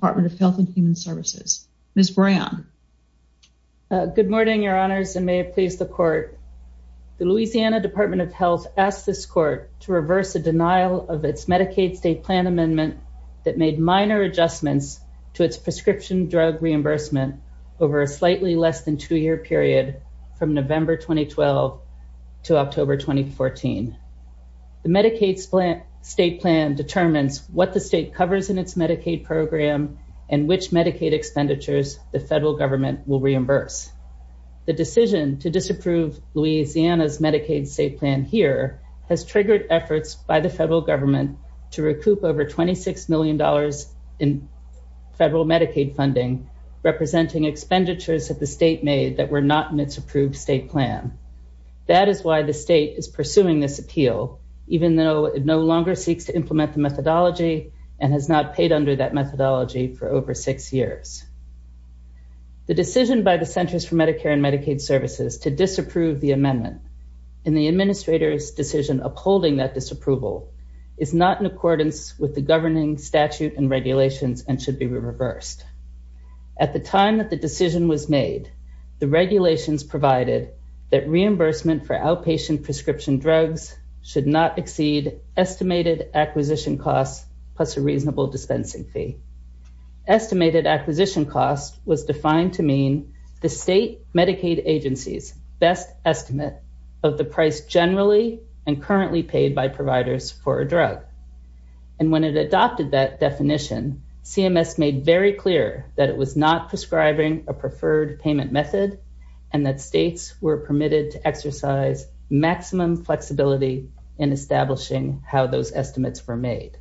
Department of Health and Human Services. Ms. Brayon. Good morning, Your Honors, and may it please the Court. The Louisiana Department of Health asked this Court to reverse a denial of its Medicaid state plan amendment that made minor adjustments to its prescription drug reimbursement over a slightly less than two-year period from November 2012 to October 2014. The Medicaid state plan determines what the state covers in its Medicaid program and which Medicaid expenditures the federal government will reimburse. The decision to disapprove Louisiana's Medicaid state plan here has triggered efforts by the federal government to recoup over $26 million in federal Medicaid funding, representing expenditures that the state made that were not in its approved state plan. That is why the state is pursuing this appeal, even though it no longer seeks to implement the methodology and has not paid under that methodology for over six years. The decision by the Centers for Medicare and Medicaid Services to disapprove the amendment in the Administrator's decision upholding that disapproval is not in accordance with the governing statute and regulations and should be reversed. At the time that the decision was made, the regulations provided that reimbursement for outpatient prescription drugs should not cost more than $1,000 plus a reasonable dispensing fee. Estimated acquisition cost was defined to mean the state Medicaid agency's best estimate of the price generally and currently paid by providers for a drug. And when it adopted that definition, CMS made very clear that it was not prescribing a preferred payment method and that states were permitted to exercise maximum flexibility in establishing how those estimates were made.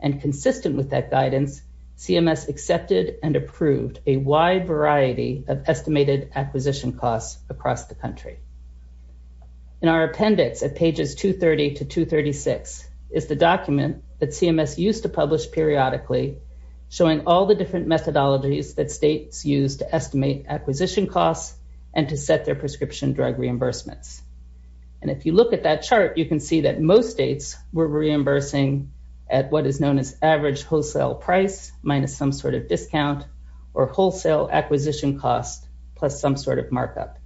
And consistent with that guidance, CMS accepted and approved a wide variety of estimated acquisition costs across the country. In our appendix at pages 230 to 236 is the document that CMS used to publish periodically showing all the different methodologies that states used to estimate acquisition costs and to set their prescription drug reimbursements. And if you look at that chart, you can see that most states were reimbursing at what is known as average wholesale price minus some sort of discount or wholesale acquisition cost plus some sort of markup.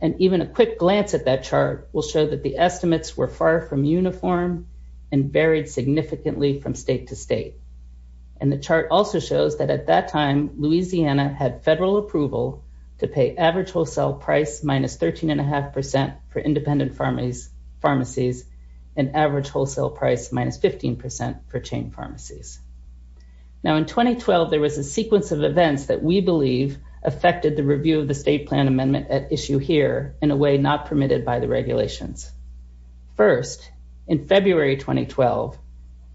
And even a quick glance at that chart will show that the estimates were far from uniform and varied significantly from state to state. And the chart also shows that at that time, Louisiana had federal approval to pay average wholesale price minus 13.5% for independent pharmacies and average wholesale price minus 15% for chain pharmacies. Now, in 2012, there was a sequence of events that we believe affected the review of the state plan amendment at issue here in a way not permitted by the regulations. First, in February 2012,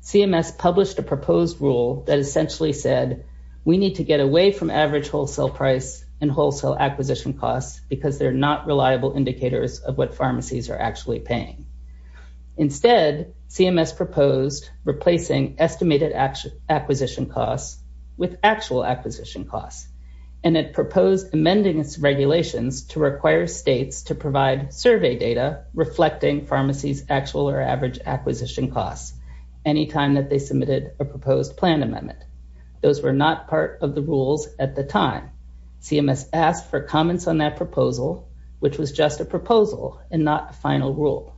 CMS published a proposed rule that essentially said we need to get away from average wholesale price and wholesale acquisition costs because they're not reliable indicators of what pharmacies are actually paying. Instead, CMS proposed replacing estimated acquisition costs with actual acquisition costs. And it proposed amending its regulations to require states to provide survey data reflecting pharmacies' actual or average acquisition costs any time that they submitted a proposed plan amendment. Those were not part of the rules at the time. CMS asked for comments on that proposal, which was just a proposal and not a final rule.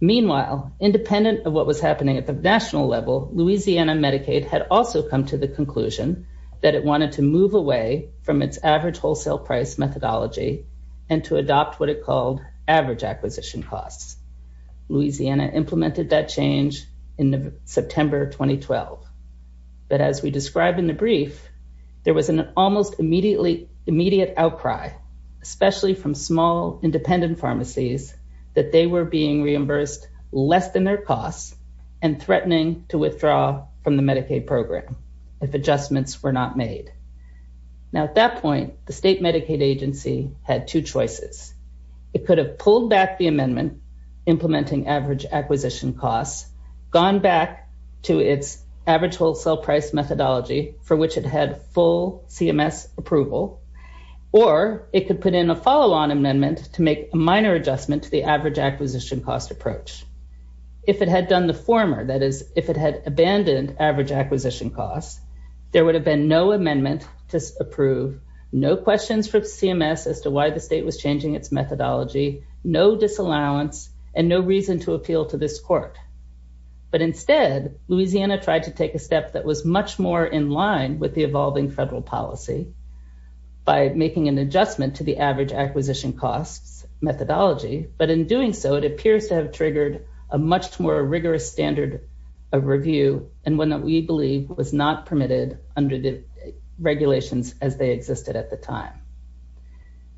Meanwhile, independent of what was happening at the national level, Louisiana Medicaid had also come to the conclusion that it wanted to move away from its average wholesale price methodology and to adopt what was called the average acquisition costs. Louisiana implemented that change in September 2012. But as we described in the brief, there was an almost immediate outcry, especially from small independent pharmacies, that they were being reimbursed less than their costs and threatening to withdraw from the Medicaid program if adjustments were not made. Now, at that point, the state Medicaid agency had two choices. It could have pulled back the amendment implementing average acquisition costs, gone back to its average wholesale price methodology for which it had full CMS approval, or it could put in a follow-on amendment to make a minor adjustment to the average acquisition cost approach. If it had done the former, that is, if it had abandoned average acquisition costs, there would have been no approval, no questions from CMS as to why the state was changing its methodology, no disallowance, and no reason to appeal to this court. But instead, Louisiana tried to take a step that was much more in line with the evolving federal policy by making an adjustment to the average acquisition costs methodology. But in doing so, it appears to have triggered a much more rigorous standard of review and one that we believe was not permitted under the regulations as they existed at the time.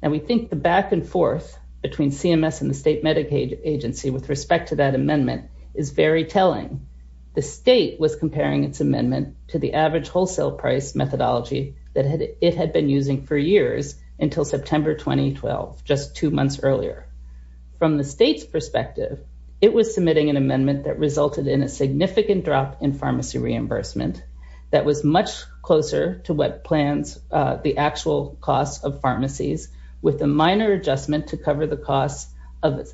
Now, we think the back and forth between CMS and the state Medicaid agency with respect to that amendment is very telling. The state was comparing its amendment to the average wholesale price methodology that it had been using for years until September 2012, just two months earlier. From the state's perspective, it was submitting an amendment that resulted in a significant drop in pharmacy reimbursement that was much closer to what plans the actual costs of pharmacies with a minor adjustment to cover the costs of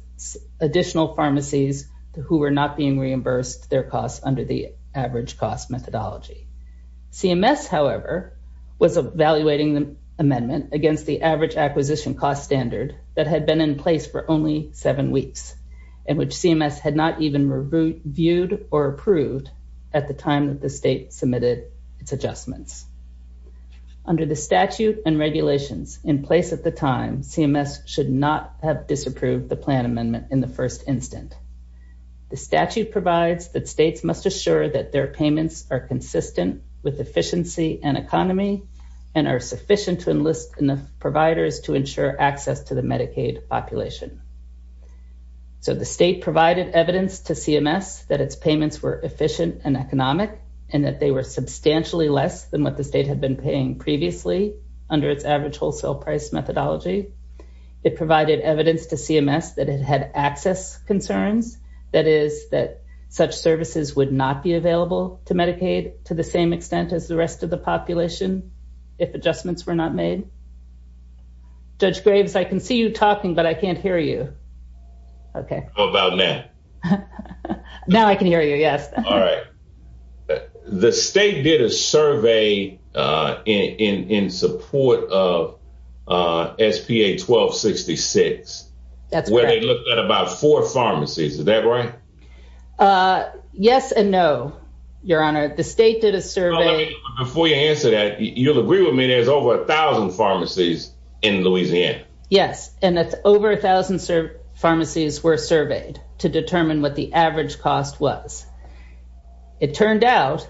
additional pharmacies who were not being reimbursed their costs under the average cost methodology. CMS, however, was evaluating the amendment against the average acquisition cost standard that had been in place for only seven weeks and which CMS had not even reviewed or approved at the time that the state submitted its adjustments. Under the statute and regulations in place at the time, CMS should not have disapproved the plan amendment in the first instant. The statute provides that states must assure that their payments are consistent with efficiency and economy and are sufficient to enlist enough providers to ensure access to the Medicaid population. So, the state provided evidence to CMS that its payments were efficient and economic and that they were substantially less than what the state had been paying previously under its average wholesale price methodology. It provided evidence to CMS that it had access concerns, that is, that such services would not be available to Medicaid to the same extent as the rest of the population if adjustments were not made. Judge Graves, I can see you talking, but I can't hear you. Okay. How about now? Now I can hear you, yes. All right. The state did a survey in support of SPA 1266. That's correct. Where they looked at about four pharmacies. Is that right? Yes and no, Your Honor. The state did a survey. Before you answer that, you'll agree with me, there's over 1,000 pharmacies in Louisiana. Yes. And over 1,000 pharmacies were surveyed to determine what the average cost was. It turned out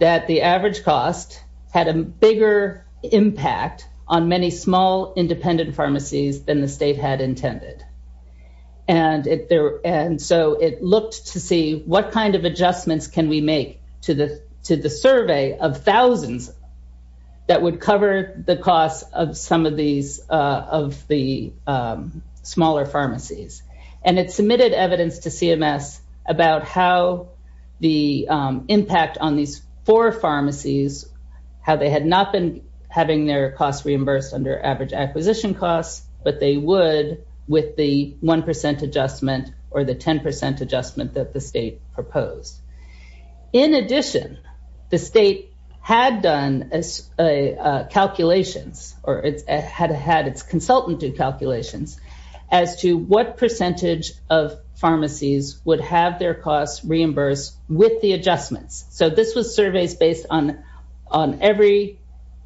that the average cost had a bigger impact on many small independent pharmacies than the state had intended. And so, it looked to see what kind of adjustments can we make to the survey of thousands that would cover the costs of some of the smaller pharmacies. And it submitted evidence to CMS about how the impact on these four pharmacies, how they had not been having their costs reimbursed under average acquisition costs, but they would with the 1% adjustment or the 10% adjustment that the state proposed. In addition, the state had done calculations or had its consultant do calculations as to what percentage of pharmacies would have their costs reimbursed with the adjustments. So, this was surveys based on every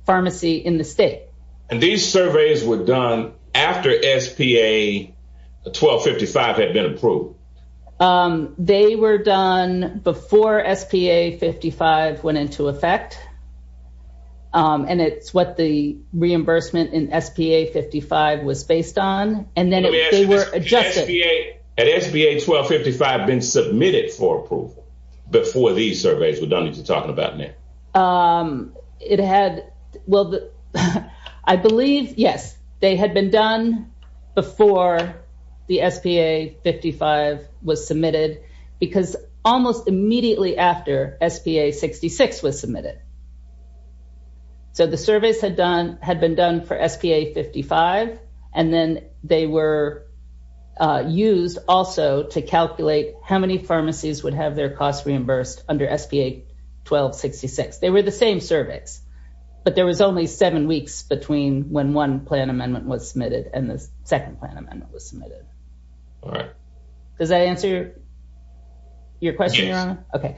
pharmacy in the state. And these surveys were done after SPA 1255 had been approved? They were done before SPA 55 went into effect. And it's what the reimbursement in SPA 55 was based on. And then they were adjusted. Let me ask you this. Had SPA 1255 been submitted for approval before these surveys were done? You're talking about now. It had, well, I believe, yes, they had been done before the SPA 55 was submitted, because almost immediately after SPA 66 was submitted. So, the surveys had been done for SPA 55. And then they were used also to calculate how many pharmacies would have their costs reimbursed under SPA 1266. They were the same surveys. But there was only seven weeks between when one plan amendment was submitted and the second plan amendment was submitted. Does that answer your question, Your Honor? Yes. Okay.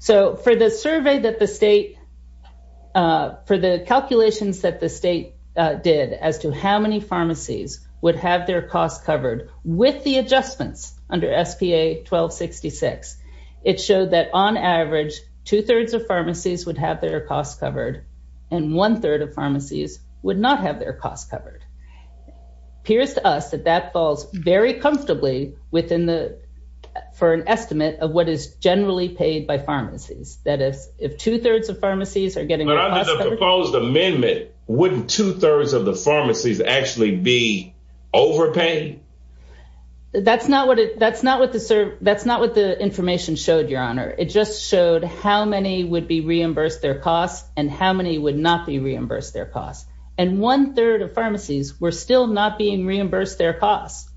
So, for the survey that the state, for the calculations that the state did as to how many pharmacies would have their costs covered with the adjustments under SPA 1266, it showed that on average, two-thirds of pharmacies would have their costs covered, and one-third of pharmacies would not have their costs covered. It appears to us that that falls very comfortably within the, for an estimate of what is generally paid by pharmacies. That is, if two-thirds of pharmacies are getting their costs covered. But under the proposed amendment, wouldn't two-thirds of the pharmacies actually be overpaid? That's not what the information showed, Your Honor. It just showed how many would be reimbursed their costs and how many would not be reimbursed their costs. And one-third of pharmacies were still not being reimbursed their costs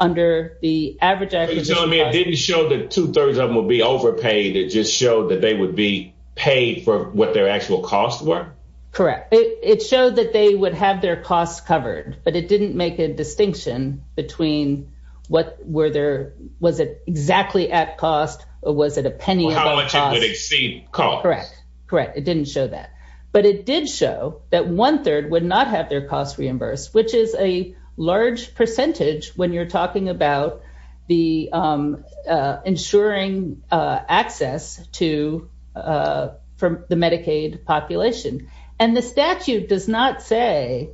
under the average acquisition. So, you're telling me it didn't show that two-thirds of them would be overpaid, it just showed that they would be paid for what their actual costs were? Correct. It showed that they would have their costs covered, but it didn't make a distinction between was it exactly at cost, or was it a penny above cost? Or how much it would exceed cost. Correct. Correct. It didn't show that. But it did show that one-third would not have their costs reimbursed, which is a large percentage when you're talking about the ensuring access to the Medicaid population. And the statute does not say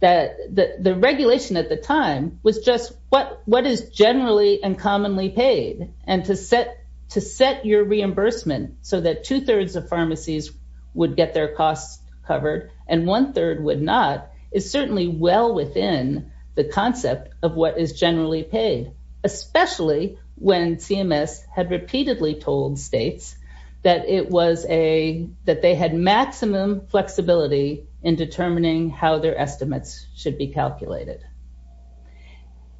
that the regulation at the time was just what is generally and commonly paid. And to set your reimbursement so that two- thirds of pharmacies would get their costs covered, and one-third would not, is certainly well within the concept of what is generally paid, especially when CMS had repeatedly told states that they had maximum flexibility in determining how their estimates should be calculated.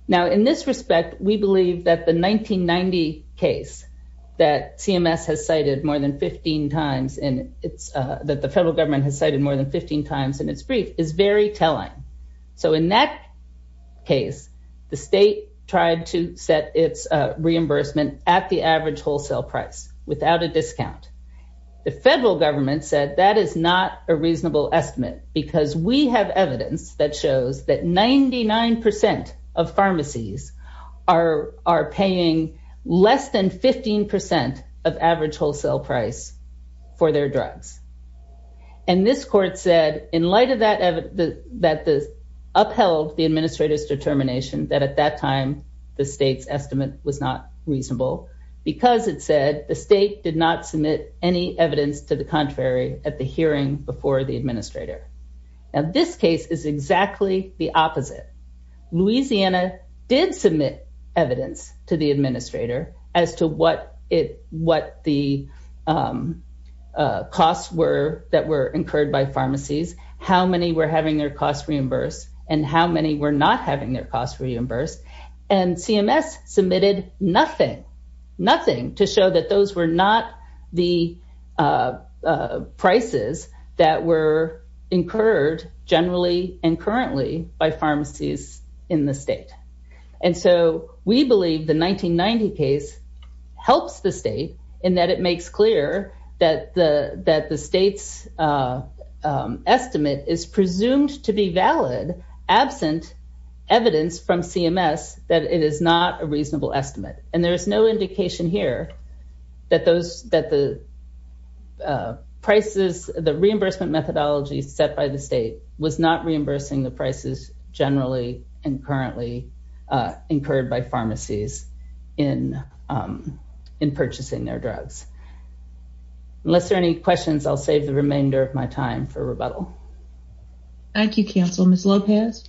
Now, in this respect, we believe that the 1990 case that CMS has cited more than 15 times, that the federal government has cited more than 15 times in its brief, is very telling. So in that case, the state tried to set its reimbursement at the average wholesale price without a discount. The federal government said that is not a reasonable estimate because we have evidence that shows that 99% of pharmacies are paying less than 15% of average wholesale price for their drugs. And this court said, in light of that upheld the administrator's determination that at that time, the state's estimate was not reasonable, because it said the state did not submit any evidence to the contrary at the hearing before the administrator. Now, this case is exactly the opposite. Louisiana did submit evidence to the administrator as to what the costs that were incurred by pharmacies, how many were having their costs reimbursed, and how many were not having their costs reimbursed. And CMS submitted nothing, nothing to show that those were not the prices that were incurred generally and currently by pharmacies in the state. And so we believe the 1990 case helps the state in that it makes clear that the state's estimate is presumed to be valid absent evidence from CMS that it is not a reasonable estimate. And there is no indication here that the reimbursement methodology set by state was not reimbursing the prices generally and currently incurred by pharmacies in purchasing their drugs. Unless there are any questions, I'll save the remainder of my time for rebuttal. Thank you, counsel. Ms. Lopez?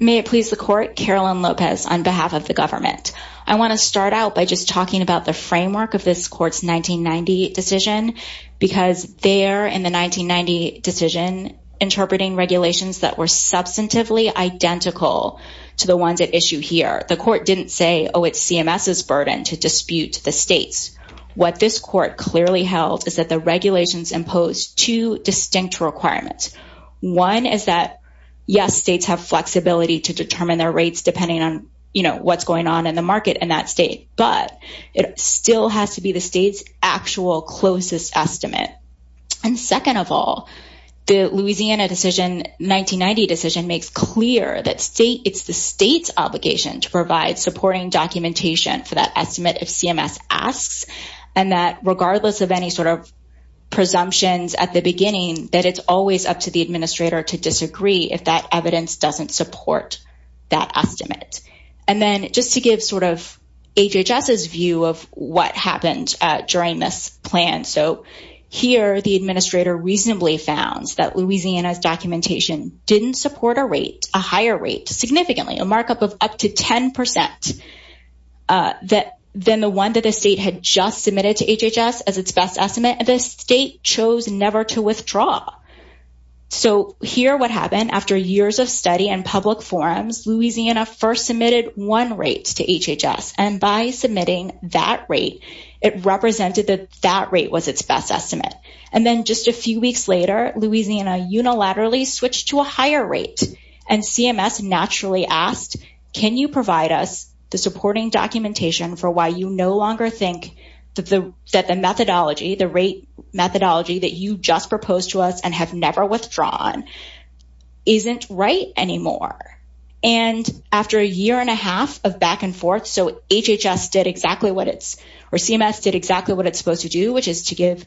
May it please the court, Carolyn Lopez on behalf of the government. I want to start out by just talking about the framework of this court's 1990 decision, because there in the 1990 decision, interpreting regulations that were substantively identical to the ones at issue here, the court didn't say, oh, it's CMS's burden to dispute the states. What this court clearly held is that the regulations imposed two distinct requirements. One is that, yes, states have flexibility to determine their rates depending on, you know, what's going on in the market in that state, but it still has to be the state's actual closest estimate. And second of all, the Louisiana decision, 1990 decision makes clear that it's the state's obligation to provide supporting documentation for that estimate if CMS asks, and that regardless of any sort of presumptions at the beginning, that it's always up to the administrator to disagree if that evidence doesn't support that estimate. And then just to give sort of HHS's view of what happened during this plan. So here, the administrator reasonably found that Louisiana's documentation didn't support a rate, a higher rate, significantly, a markup of up to 10 percent than the one that the state had just submitted to HHS as its best estimate, and the state chose never to withdraw. So here, what happened after years of study and public forums, Louisiana first submitted one rate to HHS, and by submitting that rate, it represented that that rate was its best estimate. And then just a few weeks later, Louisiana unilaterally switched to a higher rate, and CMS naturally asked, can you provide us the supporting documentation for why you no longer think that the methodology, the rate methodology that you just proposed to us and have never withdrawn isn't right anymore? And after a year and a half of back and forth, so HHS did exactly what it's, or CMS did exactly what it's supposed to do, which is to give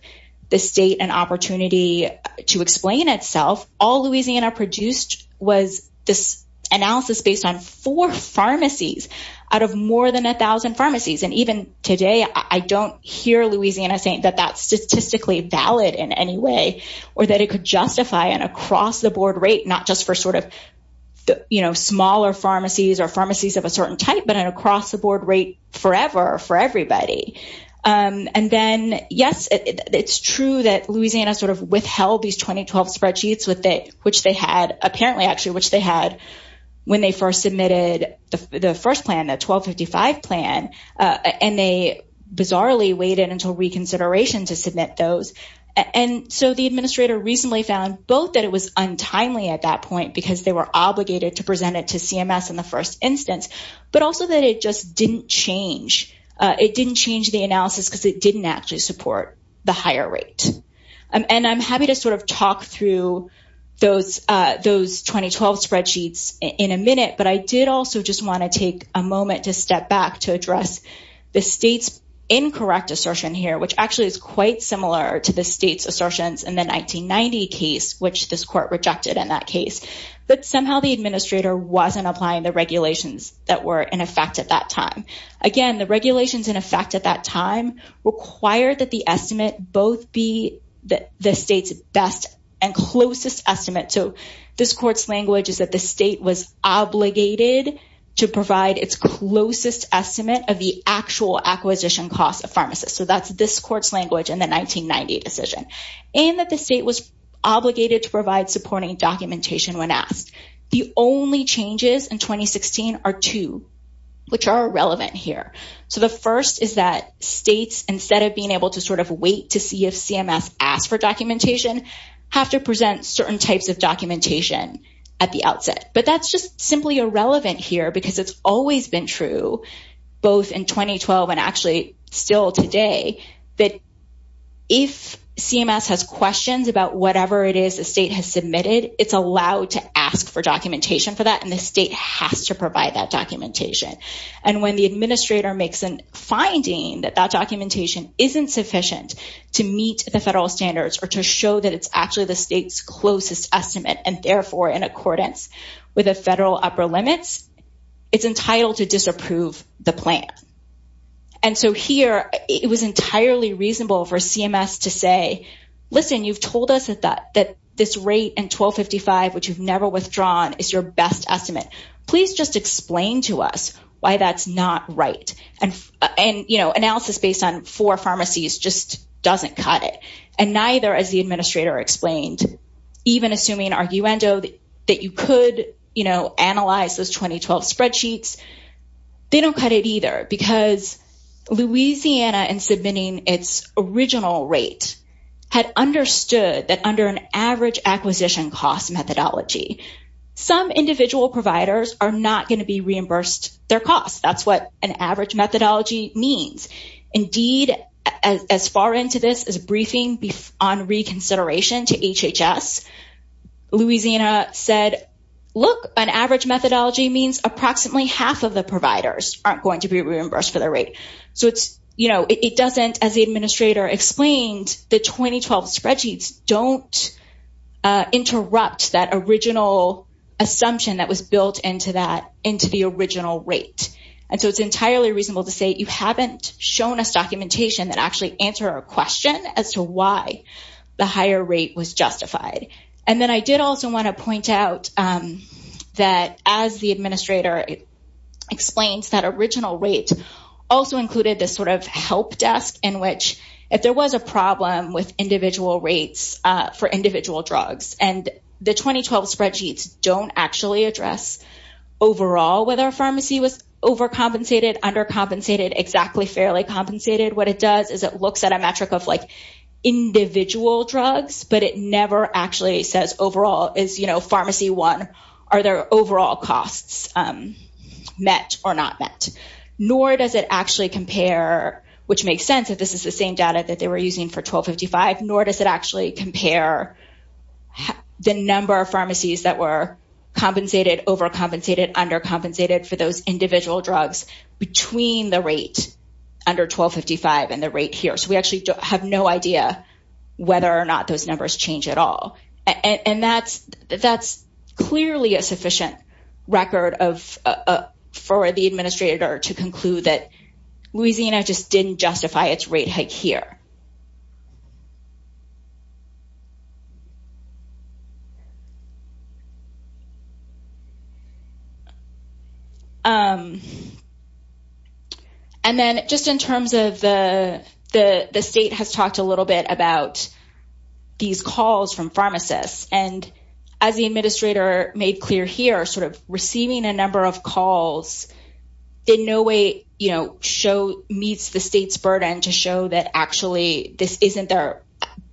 the state an opportunity to explain itself, all Louisiana produced was this analysis based on four pharmacies out of more than 1,000 pharmacies. And even today, I don't hear Louisiana saying that that's statistically valid in any way, or that it could justify an across-the-board rate, not just for smaller pharmacies or pharmacies of a certain type, but an across-the-board rate forever for everybody. And then, yes, it's true that Louisiana withheld these 2012 spreadsheets, which they had, when they first submitted the first plan, the 1255 plan, and they bizarrely waited until reconsideration to submit those. And so the administrator recently found both that it was untimely at that point, because they were obligated to present it to CMS in the first instance, but also that it just didn't change. It didn't change the analysis because it didn't actually higher rate. And I'm happy to sort of talk through those 2012 spreadsheets in a minute, but I did also just want to take a moment to step back to address the state's incorrect assertion here, which actually is quite similar to the state's assertions in the 1990 case, which this court rejected in that case. But somehow the administrator wasn't applying the regulations that were in effect at that time. Again, the regulations in effect at that time required that the estimate both be the state's best and closest estimate. So this court's language is that the state was obligated to provide its closest estimate of the actual acquisition cost of pharmacists. So that's this court's language in the 1990 decision. And that the state was obligated to provide supporting documentation when asked. The only changes in 2016 are two, which are relevant here. So the first is that states, instead of being able to sort of wait to see if CMS asked for documentation, have to present certain types of documentation at the outset. But that's just simply irrelevant here because it's always been true, both in 2012 and actually still today, that if CMS has questions about whatever it is the state has submitted, it's allowed to ask for documentation for that and the state has to provide that documentation. And when the administrator makes a finding that that documentation isn't sufficient to meet the federal standards or to show that it's actually the state's closest estimate and therefore in accordance with the federal upper limits, it's entitled to disapprove the plan. And so here, it was entirely reasonable for CMS to say, listen, you've told us that this rate in best estimate. Please just explain to us why that's not right. And analysis based on four pharmacies just doesn't cut it. And neither, as the administrator explained, even assuming arguendo that you could analyze those 2012 spreadsheets, they don't cut it either. Because Louisiana, in submitting its original rate, had understood that under an average acquisition cost methodology, some individual providers are not going to be reimbursed their costs. That's what an average methodology means. Indeed, as far into this as a briefing on reconsideration to HHS, Louisiana said, look, an average methodology means approximately half of the providers aren't going to be reimbursed for their rate. So it doesn't, as the administrator explained, the 2012 spreadsheets don't interrupt that original assumption that was built into that, into the original rate. And so it's entirely reasonable to say you haven't shown us documentation that actually answer a question as to why the higher rate was justified. And then I did also want to point out that as the administrator explains that original rate also included this sort of help desk in which, if there was a problem with individual rates for individual drugs, and the 2012 spreadsheets don't actually address overall whether a pharmacy was overcompensated, undercompensated, exactly fairly compensated, what it does is it looks at a metric of like individual drugs, but it never actually says overall is, you know, pharmacy one, are their overall costs met or not met? Nor does it actually compare, which makes sense that this is the same data that they were using for 1255, nor does it actually compare the number of pharmacies that were compensated, overcompensated, undercompensated for those individual drugs between the rate under 1255 and the rate here. So we actually have no idea whether or not those numbers change at all. And that's clearly a sufficient record for the administrator to conclude that Louisiana just didn't justify its rate hike here. And then just in terms of the state has talked a little bit about these calls from pharmacists, and as the administrator made clear here, sort of receiving a number of calls in no way, you know, show meets the state's burden to show that actually this isn't their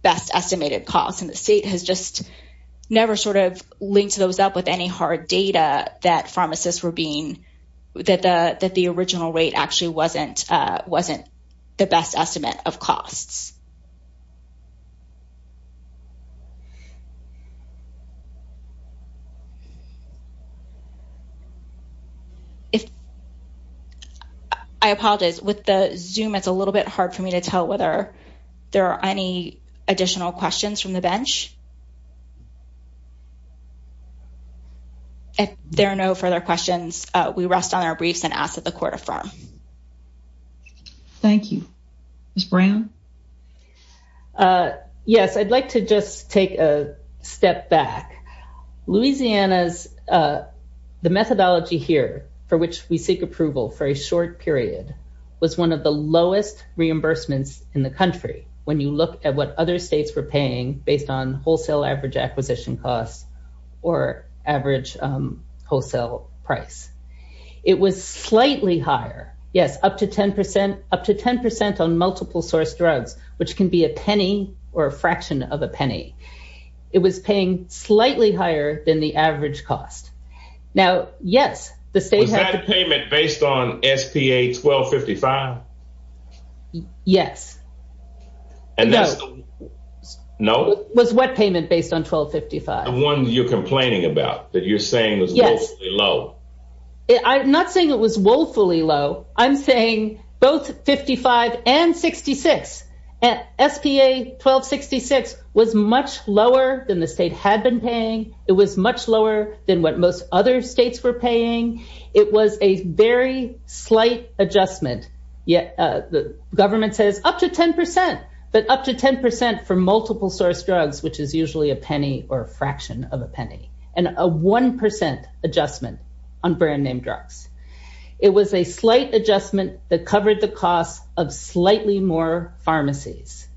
best estimated cost. And the state has just never sort of linked those up with any hard data that pharmacists were being, that the original rate actually wasn't the best estimate of costs. If I apologize with the zoom, it's a little bit hard for me to tell whether there are any additional questions from the bench. If there are no further questions, we rest on our briefs and ask that the court affirm. Thank you. Ms. Brown. Yes, I'd like to just take a step back. Louisiana's, the methodology here for which we seek approval for a short period was one of the lowest reimbursements in the country. When you look at what other states were paying based on wholesale average acquisition costs or average wholesale price, it was slightly higher. Yes, up to 10%, up to 10% on multiple source drugs, which can be a penny or a fraction of a penny. It was paying slightly higher than the average cost. Now, yes, the state had a payment based on SPA 1255. Yes. And no, no, it was what payment based on 1255. The one you're complaining about that you're saying was low. I'm not saying it was woefully low. I'm saying both 55 and 66 at SPA 1266 was much lower than the state had been paying. It was much lower than what most other states were paying. It was a very slight adjustment. Yet the government says up to 10%, but up to 10% for multiple source drugs, which is usually a penny or a fraction of a penny and a 1% adjustment on brand name drugs. It was a slight adjustment that covered the cost of slightly more pharmacies.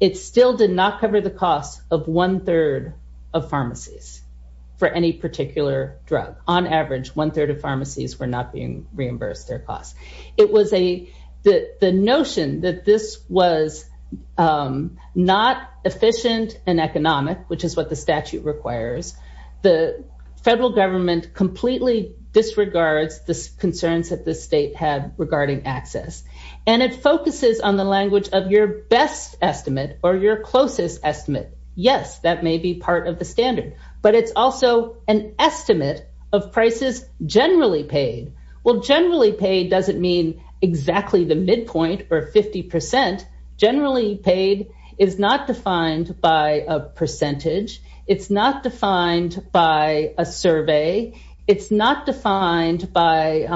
It still did not cover the cost of one third of pharmacies for any particular drug. On average, one third of pharmacies were not being reimbursed their costs. It was a, the notion that this was not efficient and economic, which is what the statute requires. The federal government completely disregards the concerns that the state had regarding access. And it focuses on the language of your best estimate or your closest estimate. Yes, that may be part of the standard, but it's also an estimate of prices generally paid. Well, generally paid doesn't mean exactly the midpoint or 50%. Generally paid is not defined by a percentage. It's not defined by a survey. It's not defined by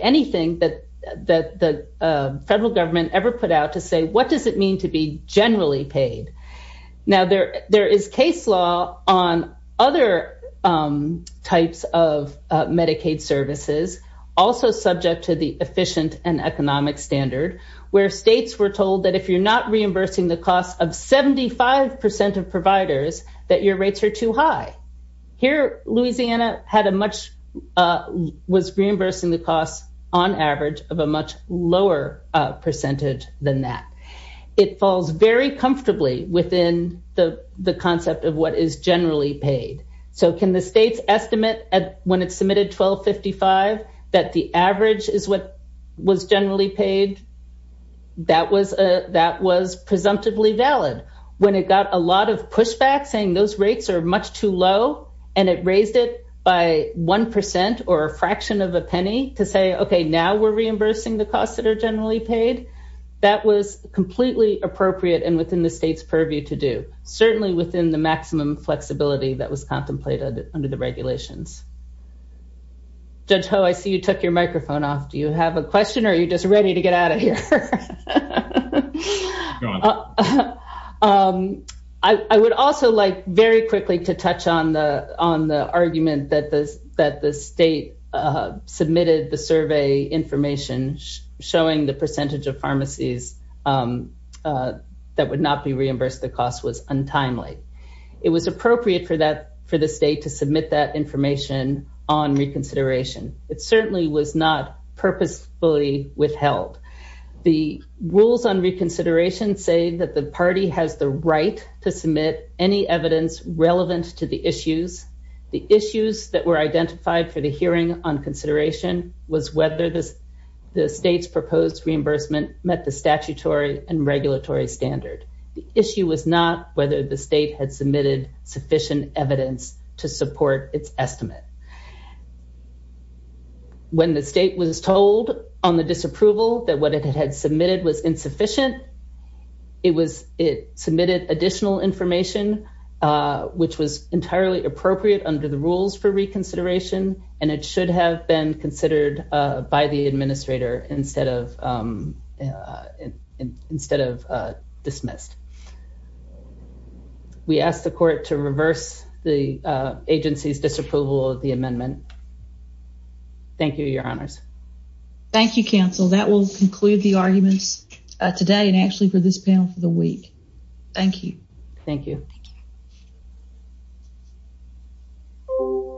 anything that the federal government ever put out to say, what does it mean to be generally paid? Now there is case law on other types of Medicaid services, also subject to the efficient and economic standard, where states were told that if you're not reimbursing the cost of 75% of providers, that your rates are too high. Here, Louisiana had a much, was reimbursing the cost on average of a much lower percentage than that. It falls very comfortably within the concept of what is generally paid. So can the states estimate when it submitted 1255, that the average is what was generally paid? That was presumptively valid. When it got a lot of pushback saying those rates are much too low, and it raised it by 1% or a fraction of a penny to say, okay, now we're reimbursing the costs that are generally paid. That was completely appropriate and within the state's purview to do. Certainly within the maximum flexibility that was contemplated under the regulations. Judge Ho, I see you took your microphone off. Do you have a question or are you just ready to get out of here? I would also like very quickly to touch on the argument that the state submitted the survey information showing the percentage of pharmacies that would not be reimbursed the timely. It was appropriate for the state to submit that information on reconsideration. It certainly was not purposefully withheld. The rules on reconsideration say that the party has the right to submit any evidence relevant to the issues. The issues that were identified for the hearing on consideration was whether the state's proposed reimbursement met the statutory and the state had submitted sufficient evidence to support its estimate. When the state was told on the disapproval that what it had submitted was insufficient, it submitted additional information which was entirely appropriate under the rules for reconsideration and it should have been considered by the administrator instead of dismissed. We ask the court to reverse the agency's disapproval of the amendment. Thank you, your honors. Thank you, counsel. That will conclude the arguments today and actually for this panel for the week. Thank you. Thank you.